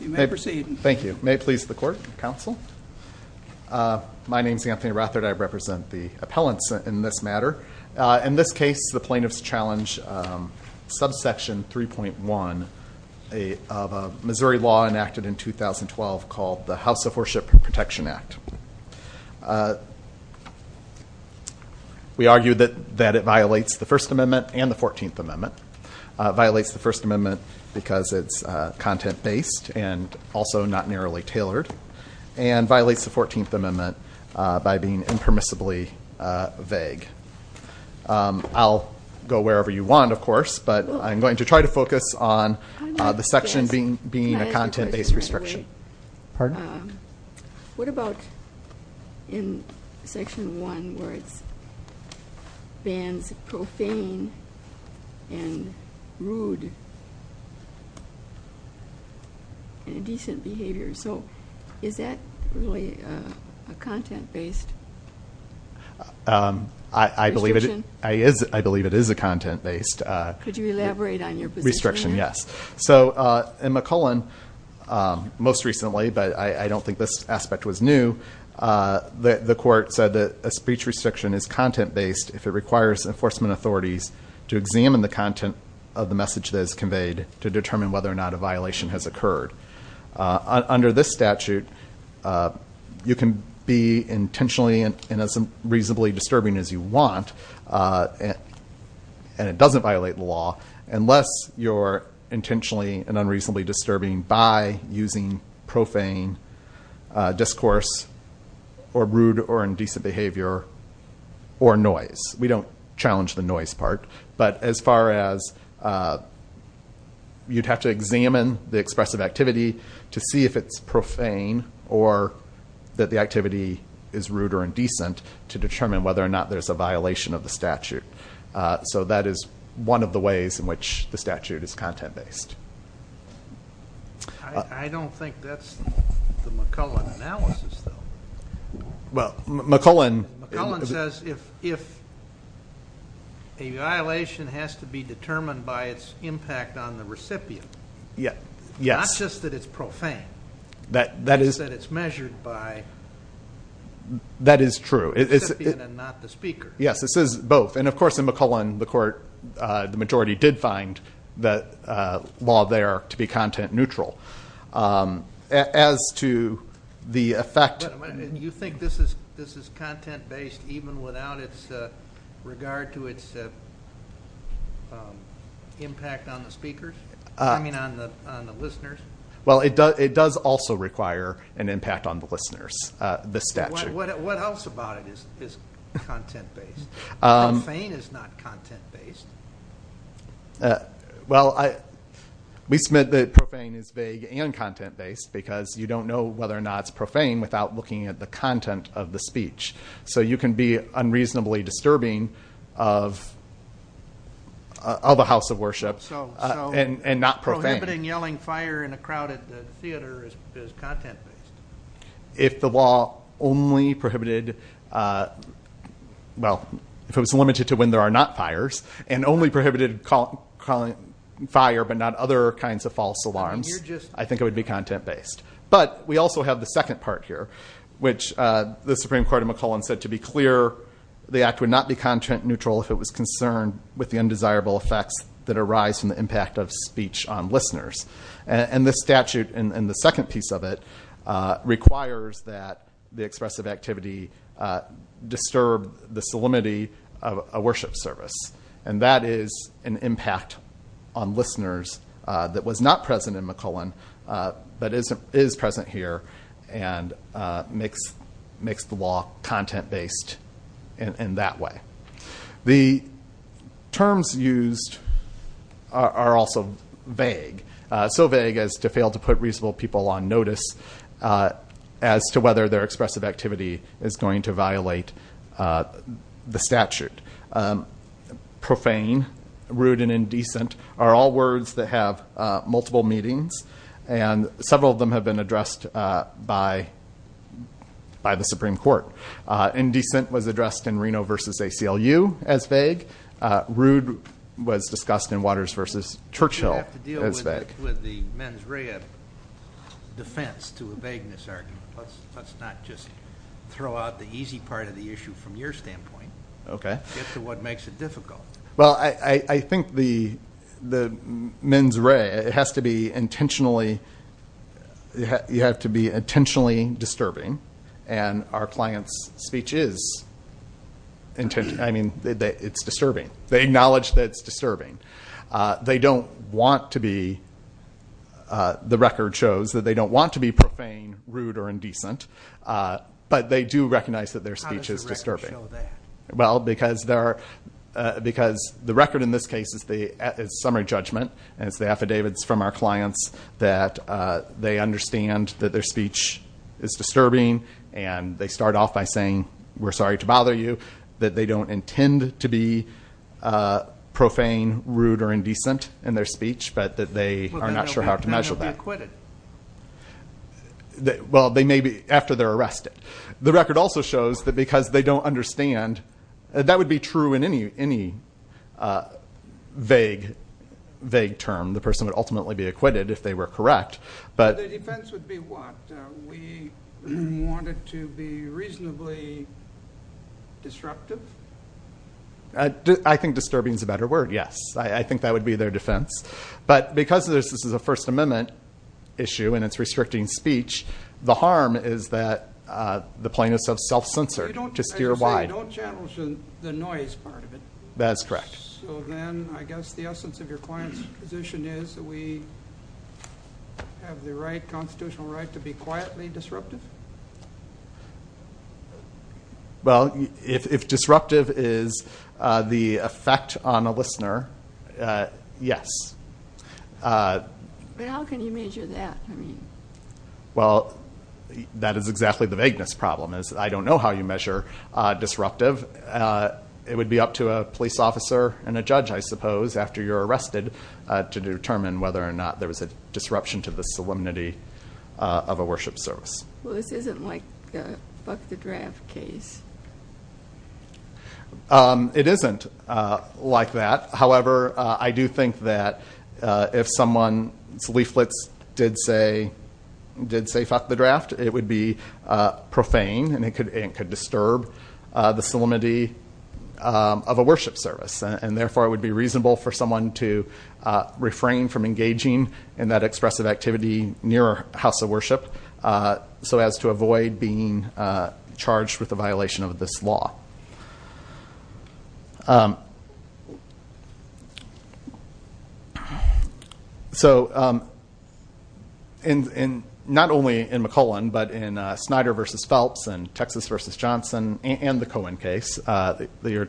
May it please the Court, Counsel. My name is Anthony Rothert. I represent the appellants in this matter. In this case, the plaintiffs challenge subsection 3.1 of a Missouri law enacted in 2012 called the House of Worship Protection Act. We argue that it violates the First Amendment and the Fourteenth Amendment, violates the First Amendment because it's content-based and also not narrowly tailored, and violates the Fourteenth Amendment by being impermissibly vague. I'll go wherever you want, of course, but I'm going to try to focus on the section being a content-based restriction. What about in Section 1 where it bans profane and rude and indecent behavior? Is that really a content-based restriction? I believe it is a content-based restriction, yes. In McCullen, most recently, but I don't think this aspect was new, the Court said that a speech restriction is content-based if it requires enforcement authorities to examine the content of the message that is conveyed to determine whether or not a violation has occurred. Under this statute, you can be intentionally and as reasonably disturbing as you want, and it doesn't violate the law, unless you're intentionally and unreasonably disturbing by using profane discourse or rude or indecent behavior or noise. We don't challenge the noise part, but as far as you'd have to examine the expressive activity to see if it's profane or that the activity is rude or indecent to determine whether or not there's a violation of the statute. So that is one of the ways in which the statute is content-based. I don't think that's the McCullen analysis, though. McCullen says if a violation has to be determined by its impact on the recipient, not just that it's profane, but that it's measured by the recipient and not the recipient. Yes, this is both. And of course, in McCullen, the majority did find the law there to be content-neutral. As to the effect... You think this is content-based even without its regard to its impact on the listeners? Well, it does also require an impact on the listeners, this statute. What else about it is content-based? Profane is not content-based. Well, we submit that profane is vague and content-based because you don't know whether or not it's profane without looking at the content of the speech. So you can be unreasonably disturbing of a house of worship and not profane. So prohibiting yelling fire in a crowded theater is content-based? If the law only prohibited... Well, if it was limited to when there are not fires and only prohibited fire but not other kinds of false alarms, I think it would be content-based. But we also have the second part here, which the Supreme Court of McCullen said to be clear the act would not be content-neutral if it was concerned with the undesirable effects that arise from the impact of speech on listeners. And this statute in the second piece of it requires that the expressive activity disturb the solemnity of a worship service. And that is an impact on listeners that was not present in McCullen but is present here and makes the law content-based in that way. The terms used are also vague. So vague as to fail to put reasonable people on notice as to whether their expressive activity is going to violate the statute. Profane, rude, and indecent are all words that have multiple meanings. And several of them have been addressed by the Supreme Court. Indecent was addressed in Reno v. ACLU as vague. Rude was discussed in Waters v. Churchill as vague. You have to deal with the mens rea defense to a vagueness argument. Let's not just throw out the easy part of the issue from your standpoint. Okay. Get to what makes it difficult. Well, I think the mens rea, it has to be intentionally... You have to be intentionally disturbing. And our client's speech is intentionally... It's disturbing. They acknowledge that it's disturbing. They don't want to be... The record shows that they don't want to be profane, rude, or indecent, but they do recognize that their speech is disturbing. How does the record show that? Well, because there are... Because the record in this case is summary judgment, and it's the affidavits from our They understand that their speech is disturbing, and they start off by saying, we're sorry to bother you. That they don't intend to be profane, rude, or indecent in their speech, but that they are not sure how to measure that. Well, then they'll be acquitted. Well, they may be, after they're arrested. The record also shows that because they don't understand... That would be true in any vague term. The person would ultimately be acquitted if they were correct, but... The defense would be what? We want it to be reasonably disruptive? I think disturbing is a better word, yes. I think that would be their defense. But because this is a First Amendment issue, and it's restricting speech, the harm is that the plaintiff's self-censored to steer wide. So you don't challenge the noise part of it? That is correct. So then, I guess the essence of your client's position is that we have the right, constitutional right, to be quietly disruptive? Well, if disruptive is the effect on a listener, yes. But how can you measure that? Well, that is exactly the vagueness problem, is I don't know how you measure disruptive. It would be up to a police officer and a judge, I suppose, after you're arrested, to determine whether or not there was a disruption to the solemnity of a worship service. Well, this isn't like a fuck the draft case. It isn't like that. However, I do think that if someone's leaflets did say fuck the draft, it would be profane and it could disturb the solemnity of a worship service. And therefore, it would be reasonable for someone to refrain from engaging in that expressive activity near a house of worship, so as to avoid being charged with a violation of this law. So, not only in McClellan, but in Snyder v. Phelps and Texas v. Johnson and the Cohen case that you're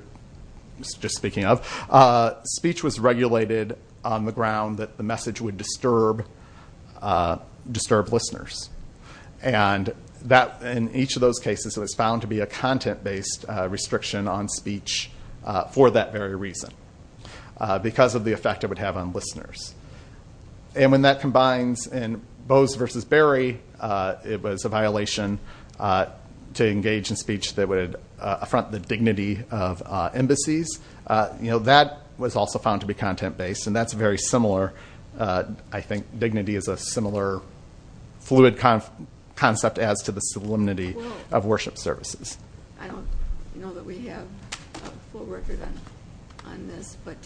just speaking of, speech was regulated on the ground that the message would disturb listeners. And in each of those cases, it was found to be a content-based restriction on speech for that very reason, because of the effect it would have on listeners. And when that combines in Bose v. Berry, it was a violation to engage in speech that would affront the dignity of embassies. That was also found to be content-based, and that's very similar. I think dignity is a similar fluid concept as to the solemnity of worship services. I don't know that we have a full record on this, but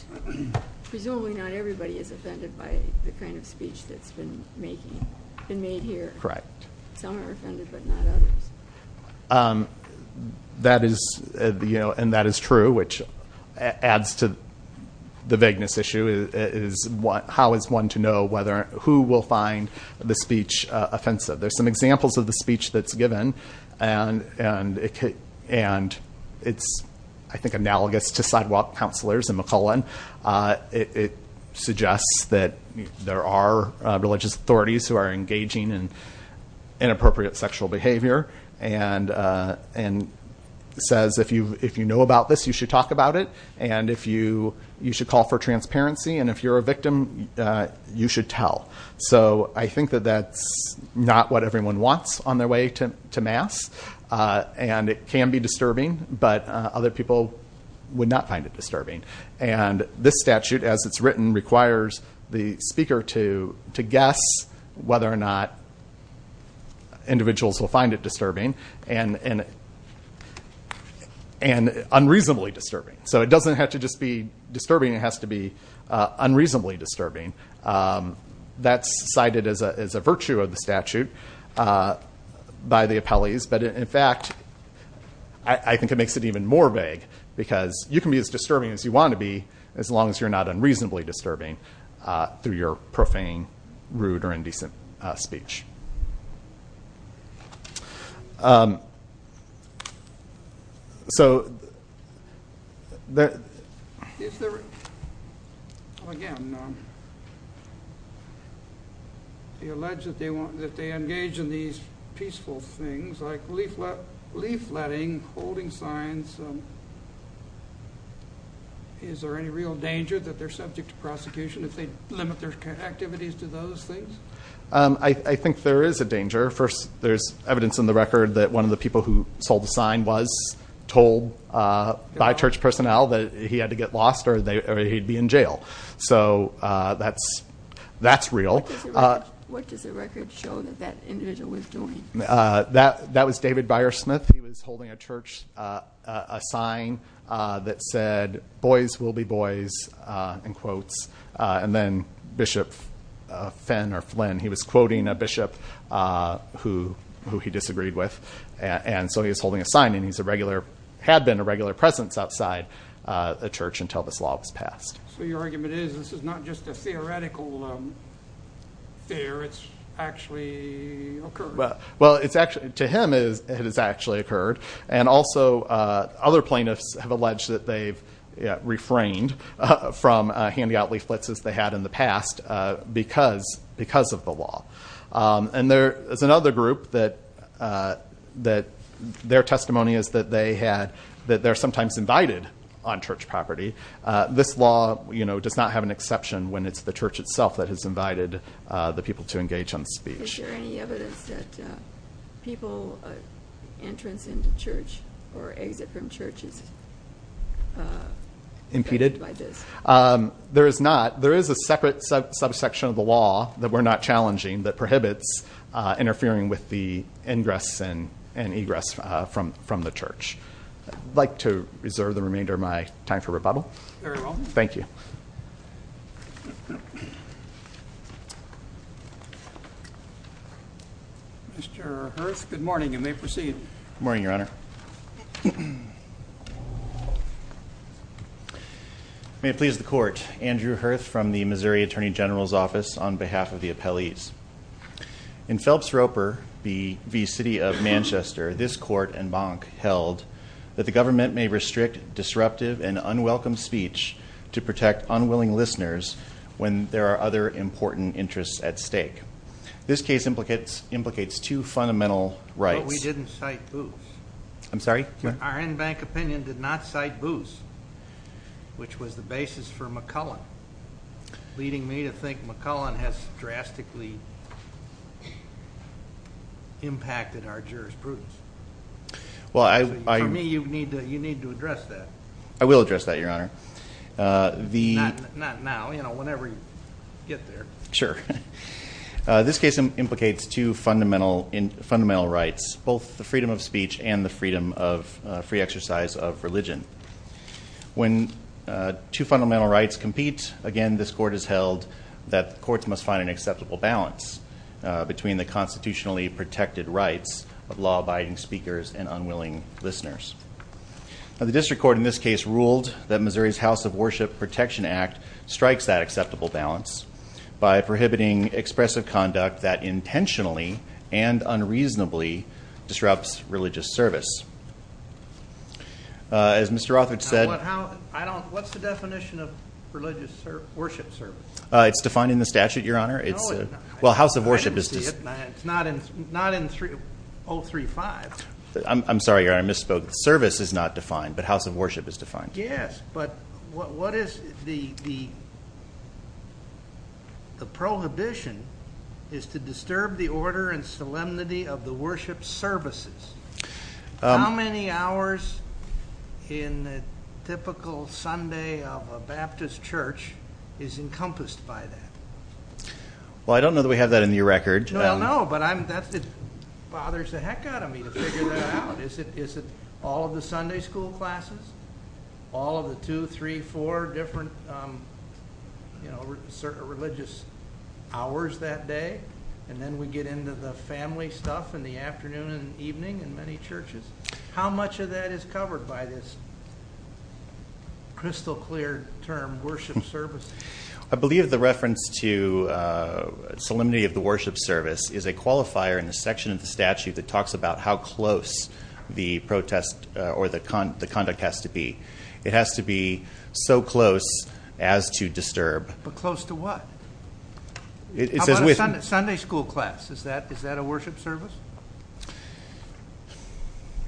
presumably not everybody is offended by the kind of speech that's been made here. Correct. Some are offended, but not others. And that is true, which adds to the vagueness issue. How is one to know who will find the speech offensive? There's some examples of the speech that's given, and it's, I think, analogous to sidewalk counselors in McClellan. It suggests that there are religious authorities who are engaging in inappropriate sexual behavior, and says, if you know about this, you should talk about it, and you should call for transparency, and if you're a victim, you should tell. So I think that that's not what everyone wants on their way to mass, and it can be disturbing, but other people would not find it disturbing. And this statute, as it's written, requires the speaker to guess whether or not individuals will find it disturbing and unreasonably disturbing. So it doesn't have to just be disturbing. It has to be unreasonably disturbing. That's cited as a virtue of the statute by the appellees, but in fact, I think it makes it even more vague, because you can be as disturbing as you want to be, as long as you're not unreasonably disturbing through your profane, rude, or indecent speech. Again, you allege that they engage in these peaceful things, like leafletting, holding signs. Is there any real danger that they're subject to prosecution if they limit their activities to those things? I think there is a danger. First, there's evidence in the record that one of the people who sold the sign was told by church personnel that he had to get lost or he'd be in jail. So that's real. What does the record show that that individual was doing? That was David Byersmith. He was holding a church sign that said, And then Bishop Fenn, or Flynn, he was quoting a bishop who he disagreed with. And so he was holding a sign, and he had been a regular presence outside the church until this law was passed. So your argument is, this is not just a theoretical fear, it's actually occurred? Well, to him, it has actually occurred. And also, other plaintiffs have alleged that they've refrained from handing out leaflets, as they had in the past, because of the law. And there is another group that their testimony is that they're sometimes invited on church property. This law does not have an exception when it's the church itself that has invited the people to engage on speech. Is there any evidence that people entrance into church or exit from church is impeded by this? There is not. There is a separate subsection of the law that we're not challenging that prohibits interfering with the ingress and egress from the church. I'd like to reserve the remainder of my time for rebuttal. Very well. Thank you. Mr. Herth, good morning. You may proceed. Good morning, Your Honor. May it please the Court, Andrew Herth from the Missouri Attorney General's Office on behalf of the appellees. In Phelps-Roper v. City of Manchester, this court and bank held that the government may restrict disruptive and unwelcome speech to protect unwilling listeners when there are other important interests at stake. This case implicates two fundamental rights. But we didn't cite Boos. I'm sorry? Our in-bank opinion did not cite Boos, which was the basis for McCullen, leading me to think McCullen has drastically impacted our jurisprudence. For me, you need to address that. I will address that, Your Honor. Not now, you know, whenever you get there. Sure. This case implicates two fundamental rights, both the freedom of speech and the freedom of free exercise of religion. When two fundamental rights compete, again, this court has held that the courts must find an acceptable balance between the constitutionally protected rights of law-abiding speakers and unwilling listeners. The district court in this case ruled that Missouri's House of Worship Protection Act strikes that acceptable balance by prohibiting expressive conduct that intentionally and unreasonably disrupts religious service. As Mr. Rothridge said- What's the definition of religious worship service? It's defined in the statute, Your Honor. No, it's not. Well, House of Worship is- I didn't see it. It's not in 035. I'm sorry, Your Honor. I misspoke. Service is not defined, but House of Worship is defined. Yes, but what is the prohibition is to disturb the order and solemnity of the worship services. How many hours in the typical Sunday of a Baptist church is encompassed by that? Well, I don't know that we have that in your record. No, I know, but it bothers the heck out of me to figure that out. Is it all of the Sunday school classes? All of the two, three, four different religious hours that day? And then we get into the family stuff in the afternoon and evening in many churches. How much of that is covered by this crystal clear term, worship service? I believe the reference to solemnity of the worship service is a qualifier in the section of the statute that talks about how close the conduct has to be. It has to be so close as to disturb. But close to what? How about a Sunday school class? Is that a worship service?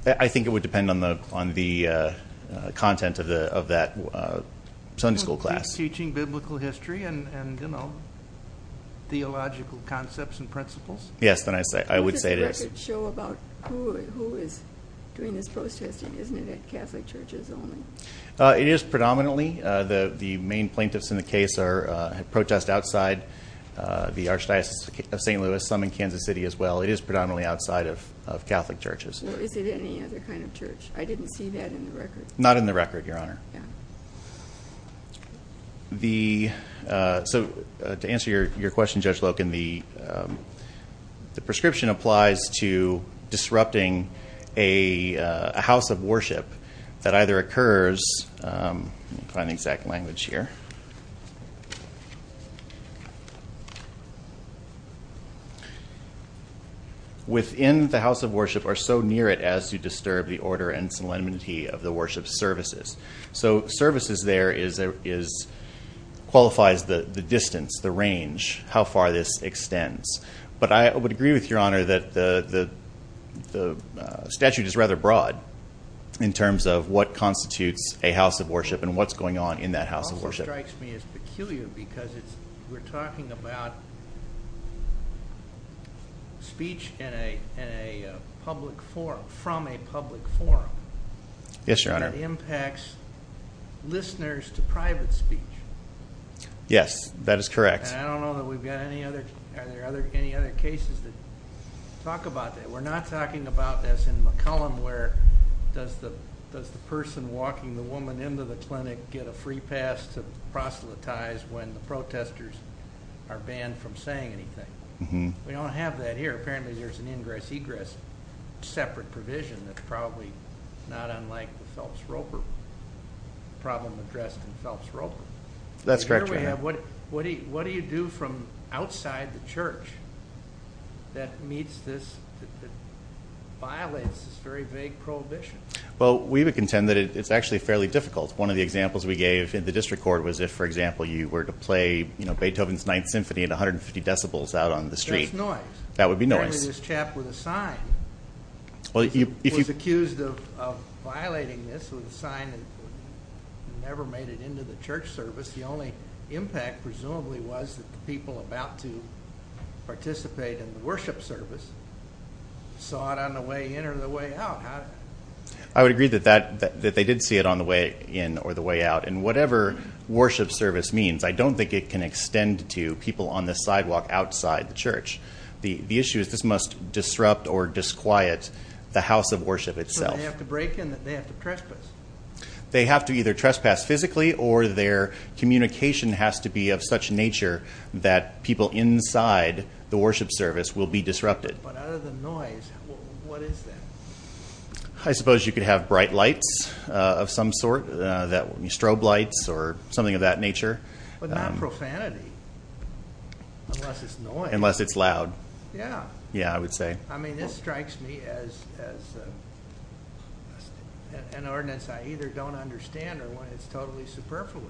I think it would depend on the content of that Sunday school class. Teaching biblical history and theological concepts and principles? Yes, I would say it is. It doesn't show about who is doing this protesting, isn't it, at Catholic churches only? It is predominantly. The main plaintiffs in the case protest outside the Archdiocese of St. Louis, some in Kansas City as well. It is predominantly outside of Catholic churches. Is it any other kind of church? I didn't see that in the record. Not in the record, Your Honor. To answer your question, Judge Loken, the prescription applies to disrupting a house of worship that either occurs Let me find the exact language here. within the house of worship are so near it as to disturb the order and solemnity of the worship services. So services there qualifies the distance, the range, how far this extends. But I would agree with Your Honor that the statute is rather broad in terms of what constitutes a house of worship and what's going on in that house of worship. It strikes me as peculiar because we're talking about speech in a public forum, from a public forum. Yes, Your Honor. That impacts listeners to private speech. Yes, that is correct. I don't know that we've got any other cases that talk about that. We're not talking about this in McCollum where does the person walking the woman into the clinic get a free pass to proselytize when the protesters are banned from saying anything. We don't have that here. Apparently there's an ingress-egress separate provision that's probably not unlike the Phelps-Roper problem addressed in Phelps-Roper. That's correct, Your Honor. What do you do from outside the church that meets this, that violates this very vague prohibition? Well, we would contend that it's actually fairly difficult. One of the examples we gave in the district court was if, for example, you were to play Beethoven's Ninth Symphony at 150 decibels out on the street. There's noise. That would be noise. Apparently this chap with a sign was accused of violating this with a sign and never made it into the church service. The only impact presumably was that the people about to participate in the worship service saw it on the way in or the way out. I would agree that they did see it on the way in or the way out. And whatever worship service means, I don't think it can extend to people on the sidewalk outside the church. The issue is this must disrupt or disquiet the house of worship itself. They have to break in. They have to trespass. They have to either trespass physically or their communication has to be of such nature that people inside the worship service will be disrupted. But out of the noise, what is that? I suppose you could have bright lights of some sort, strobe lights or something of that nature. But not profanity unless it's noise. Unless it's loud. Yeah. Yeah, I would say. I mean, this strikes me as an ordinance I either don't understand or it's totally superfluous.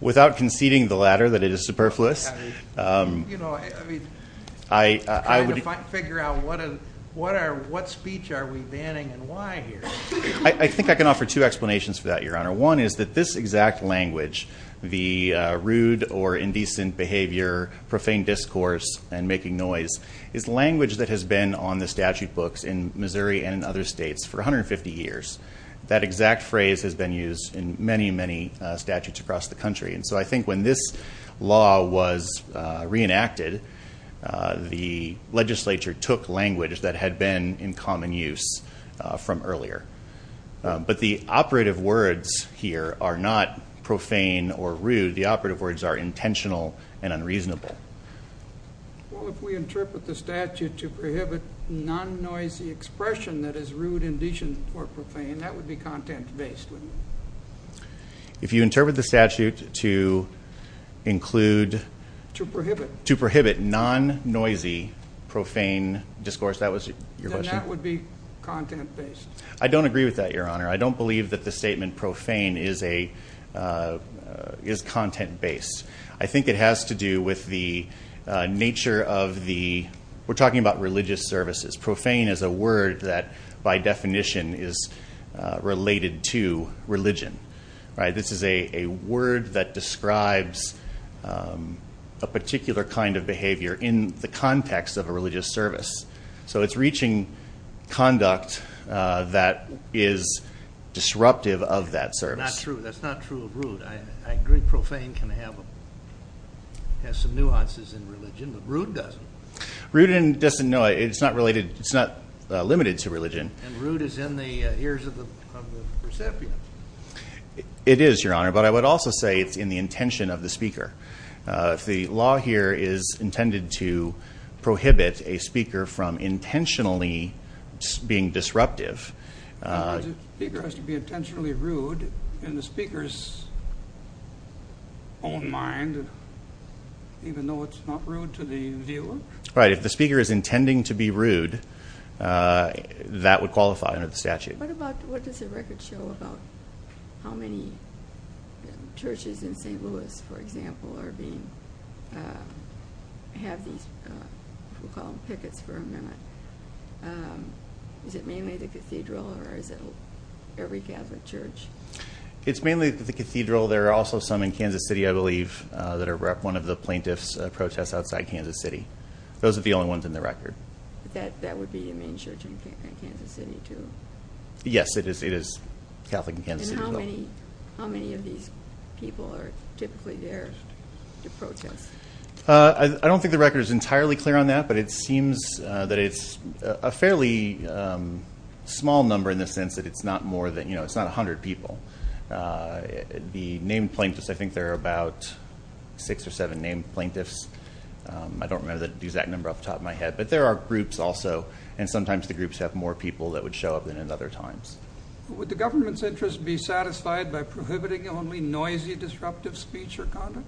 Without conceding the latter, that it is superfluous. You know, I mean, trying to figure out what speech are we banning and why here? I think I can offer two explanations for that, Your Honor. One is that this exact language, the rude or indecent behavior, profane discourse and making noise, is language that has been on the statute books in Missouri and in other states for 150 years. That exact phrase has been used in many, many statutes across the country. And so I think when this law was reenacted, the legislature took language that had been in common use from earlier. But the operative words here are not profane or rude. The operative words are intentional and unreasonable. Well, if we interpret the statute to prohibit non-noisy expression that is rude, indecent or profane, that would be content-based, wouldn't it? If you interpret the statute to include... To prohibit. To prohibit non-noisy profane discourse, that was your question? Then that would be content-based. I don't agree with that, Your Honor. I don't believe that the statement profane is content-based. I think it has to do with the nature of the... We're talking about religious services. Profane is a word that, by definition, is related to religion. This is a word that describes a particular kind of behavior in the context of a religious service. So it's reaching conduct that is disruptive of that service. That's not true of rude. I agree profane can have some nuances in religion, but rude doesn't. Rude and indecent, no, it's not limited to religion. And rude is in the ears of the recipient. It is, Your Honor, but I would also say it's in the intention of the speaker. If the law here is intended to prohibit a speaker from intentionally being disruptive... The speaker has to be intentionally rude in the speaker's own mind, even though it's not rude to the viewer? Right, if the speaker is intending to be rude, that would qualify under the statute. What does the record show about how many churches in St. Louis, for example, are being... have these, we'll call them pickets for a minute. Is it mainly the cathedral or is it every Catholic church? It's mainly the cathedral. There are also some in Kansas City, I believe, that are one of the plaintiffs' protests outside Kansas City. Those are the only ones in the record. That would be a main church in Kansas City, too? Yes, it is Catholic in Kansas City. And how many of these people are typically there to protest? I don't think the record is entirely clear on that, but it seems that it's a fairly small number in the sense that it's not a hundred people. The named plaintiffs, I think there are about six or seven named plaintiffs. I don't remember the exact number off the top of my head, but there are groups also, and sometimes the groups have more people that would show up than at other times. Would the government's interest be satisfied by prohibiting only noisy, disruptive speech or conduct?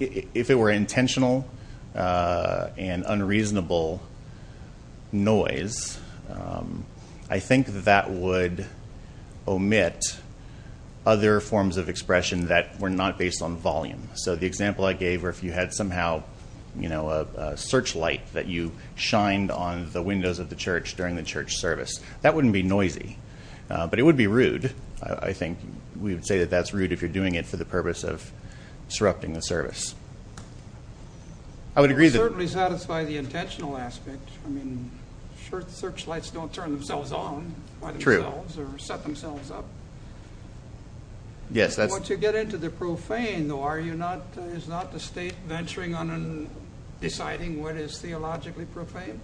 If it were intentional and unreasonable noise, I think that would omit other forms of expression that were not based on volume. So the example I gave where if you had somehow a searchlight that you shined on the windows of the church during the church service, that wouldn't be noisy, but it would be rude. I think we would say that that's rude if you're doing it for the purpose of disrupting the service. It would certainly satisfy the intentional aspect. I mean, church searchlights don't turn themselves on by themselves or set themselves up. Once you get into the profane, though, is not the state venturing on and deciding what is theologically profane?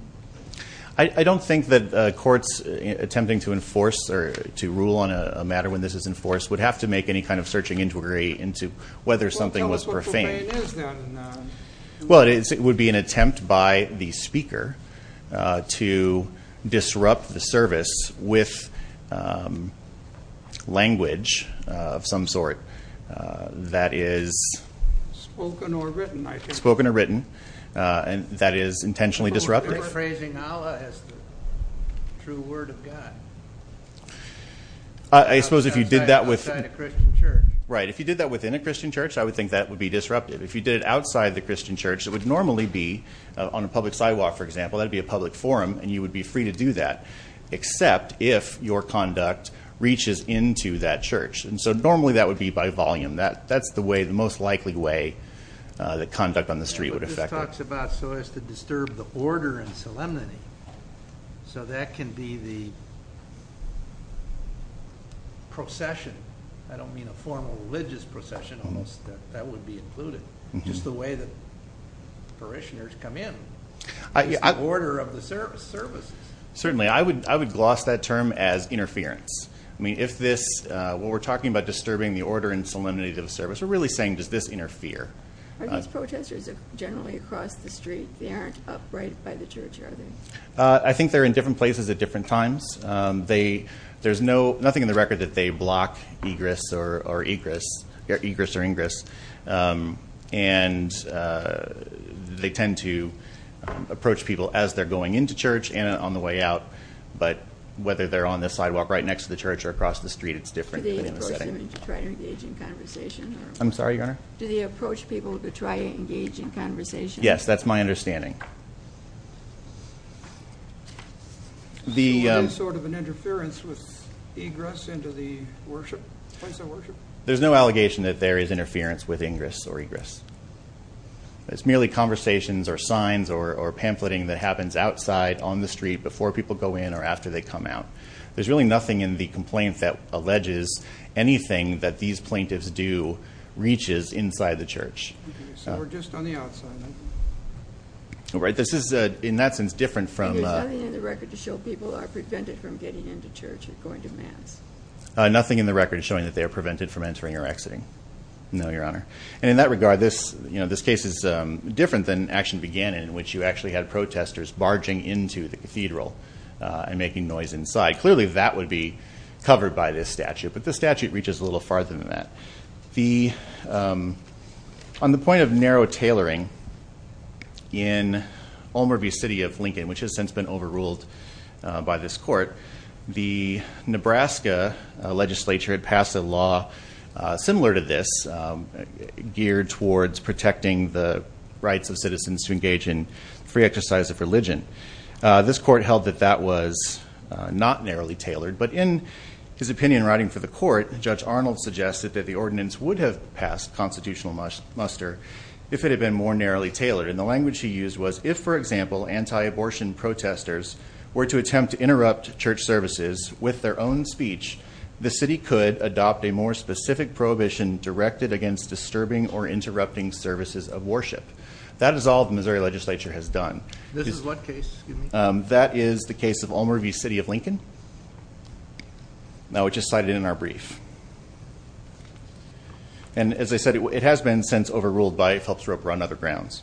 I don't think that courts attempting to enforce or to rule on a matter when this is enforced would have to make any kind of searching into whether something was profane. Well, tell us what profane is then. Well, it would be an attempt by the speaker to disrupt the service with language of some sort that is spoken or written, and that is intentionally disruptive. I suppose if you did that within a Christian church, I would think that would be disruptive. If you did it outside the Christian church, it would normally be on a public sidewalk, for example. That would be a public forum, and you would be free to do that, except if your conduct reaches into that church. And so normally that would be by volume. That's the most likely way that conduct on the street would affect it. But this talks about so as to disturb the order and solemnity, so that can be the procession. I don't mean a formal religious procession almost. That would be included. Just the way that parishioners come in. It's the order of the services. Certainly. I would gloss that term as interference. I mean, if this, what we're talking about disturbing the order and solemnity of the service, we're really saying does this interfere. Are these protesters generally across the street? They aren't upright by the church, are they? I think they're in different places at different times. There's nothing in the record that they block egress or ingress. And they tend to approach people as they're going into church and on the way out. But whether they're on the sidewalk right next to the church or across the street, it's different. Do they approach them to try to engage in conversation? I'm sorry, Your Honor? Do they approach people to try to engage in conversation? Yes, that's my understanding. Okay. Is there sort of an interference with egress into the place of worship? There's no allegation that there is interference with ingress or egress. It's merely conversations or signs or pamphleting that happens outside on the street before people go in or after they come out. There's really nothing in the complaint that alleges anything that these plaintiffs do reaches inside the church. Okay. So we're just on the outside, then? Right. This is, in that sense, different from the... And there's nothing in the record to show people are prevented from getting into church or going to mass? Nothing in the record is showing that they are prevented from entering or exiting. No, Your Honor. And in that regard, this case is different than action began in, in which you actually had protesters barging into the cathedral and making noise inside. Clearly, that would be covered by this statute. But this statute reaches a little farther than that. On the point of narrow tailoring in Ulmer v. City of Lincoln, which has since been overruled by this court, the Nebraska legislature had passed a law similar to this, geared towards protecting the rights of citizens to engage in free exercise of religion. This court held that that was not narrowly tailored. But in his opinion, writing for the court, Judge Arnold suggested that the ordinance would have passed constitutional muster if it had been more narrowly tailored. And the language he used was, if, for example, anti-abortion protesters were to attempt to interrupt church services with their own speech, the city could adopt a more specific prohibition directed against disturbing or interrupting services of worship. That is all the Missouri legislature has done. This is what case, excuse me? That is the case of Ulmer v. City of Lincoln, which is cited in our brief. And as I said, it has been since overruled by Phelps Roper on other grounds.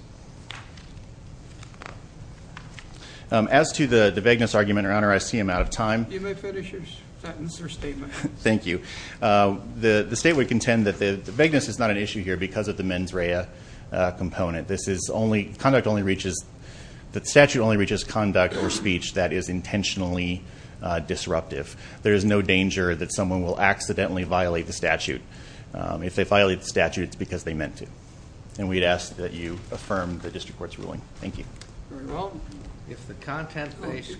As to the vagueness argument, Your Honor, I see I'm out of time. You may finish your statement. Thank you. The state would contend that the vagueness is not an issue here because of the mens rea component. This is only, conduct only reaches, the statute only reaches conduct or speech that is intentionally disruptive. There is no danger that someone will accidentally violate the statute. If they violate the statute, it's because they meant to. And we'd ask that you affirm the district court's ruling. Thank you. If the content-based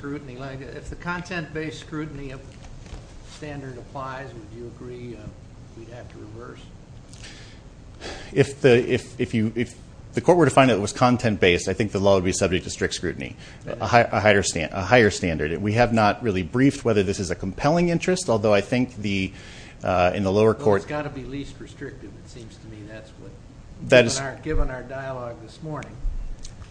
scrutiny of the standard applies, would you agree we'd have to reverse? If the court were to find that it was content-based, I think the law would be subject to strict scrutiny, a higher standard. We have not really briefed whether this is a compelling interest, although I think in the lower court Well, it's got to be least restrictive, it seems to me. That's what, given our dialogue this morning.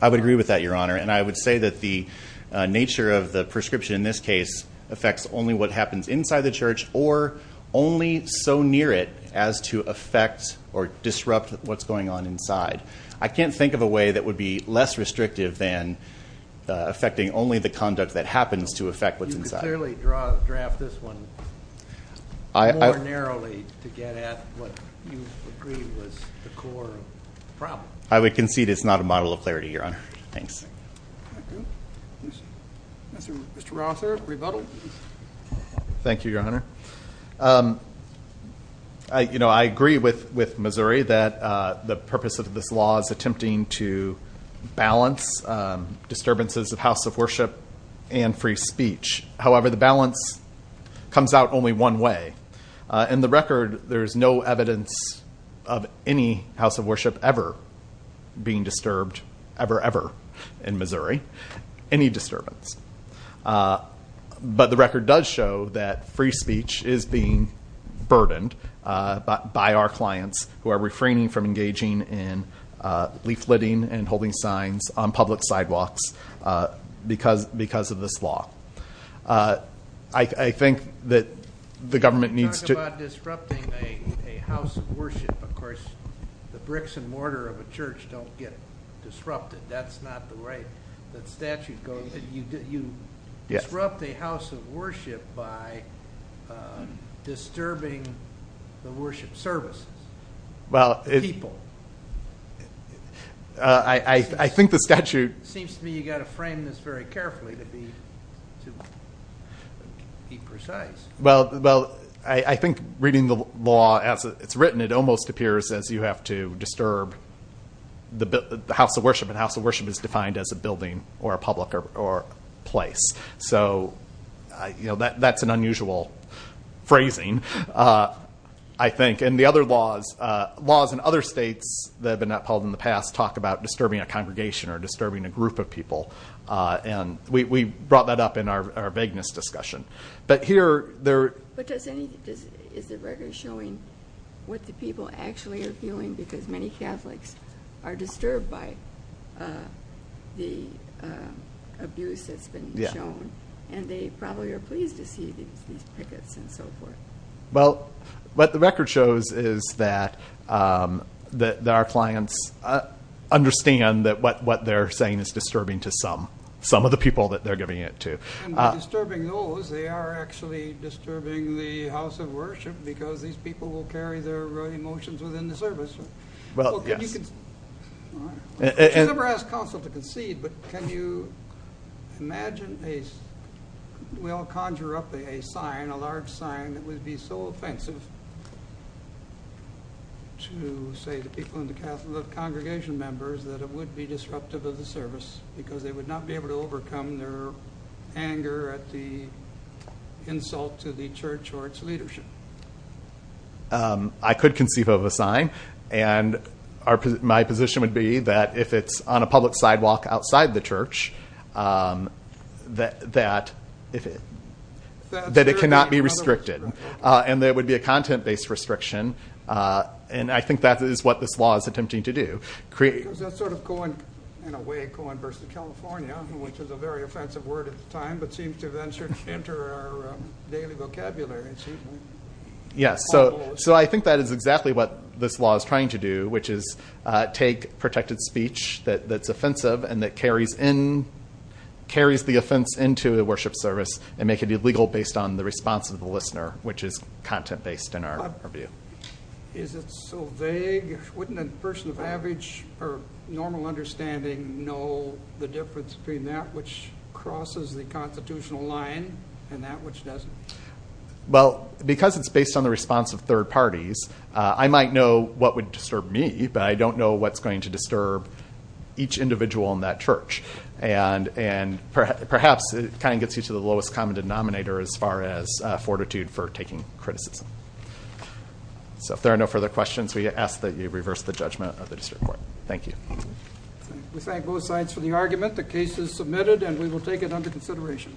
I would agree with that, Your Honor. And I would say that the nature of the prescription in this case affects only what happens inside the church or only so near it as to affect or disrupt what's going on inside. I can't think of a way that would be less restrictive than affecting only the conduct that happens to affect what's inside. You could clearly draft this one more narrowly to get at what you agree was the core problem. I would concede it's not a model of clarity, Your Honor. Thanks. Mr. Rother, rebuttal. Thank you, Your Honor. I agree with Missouri that the purpose of this law is attempting to balance disturbances of house of worship and free speech. However, the balance comes out only one way. In the record, there is no evidence of any house of worship ever being disturbed ever, ever in Missouri. Any disturbance. But the record does show that free speech is being burdened by our clients who are refraining from engaging in leafleting and holding signs on public sidewalks because of this law. I think that the government needs to... You talk about disrupting a house of worship. Of course, the bricks and mortar of a church don't get disrupted. That's not the way the statute goes. You disrupt a house of worship by disturbing the worship services, the people. I think the statute... Be precise. Well, I think reading the law as it's written, it almost appears as you have to disturb the house of worship, and house of worship is defined as a building or a public or place. So that's an unusual phrasing, I think. And the other laws, laws in other states that have been upheld in the past, We brought that up in our vagueness discussion. But is the record showing what the people actually are feeling? Because many Catholics are disturbed by the abuse that's been shown, and they probably are pleased to see these pickets and so forth. Well, what the record shows is that our clients understand that what they're saying is disturbing to some, some of the people that they're giving it to. And by disturbing those, they are actually disturbing the house of worship because these people will carry their emotions within the service. Well, yes. I never asked counsel to concede, but can you imagine a... And it would be so offensive to say to people in the Catholic congregation members that it would be disruptive of the service, because they would not be able to overcome their anger at the insult to the church or its leadership. I could conceive of a sign, and my position would be that if it's on a public sidewalk outside the church, that it cannot be restricted. And there would be a content-based restriction. And I think that is what this law is attempting to do. Does that sort of, in a way, coin versus California, which is a very offensive word at the time, but seems to venture into our daily vocabulary. Yes. So I think that is exactly what this law is trying to do, which is take protected speech that's offensive and that carries the offense into the worship service and make it illegal based on the response of the listener, which is content-based in our view. Is it so vague? Wouldn't a person of average or normal understanding know the difference between that which crosses the constitutional line and that which doesn't? Well, because it's based on the response of third parties, I might know what would disturb me, but I don't know what's going to disturb each individual in that church. And perhaps it kind of gets you to the lowest common denominator as far as fortitude for taking criticism. So if there are no further questions, we ask that you reverse the judgment of the district court. Thank you. We thank both sides for the argument. The case is submitted, and we will take it under consideration.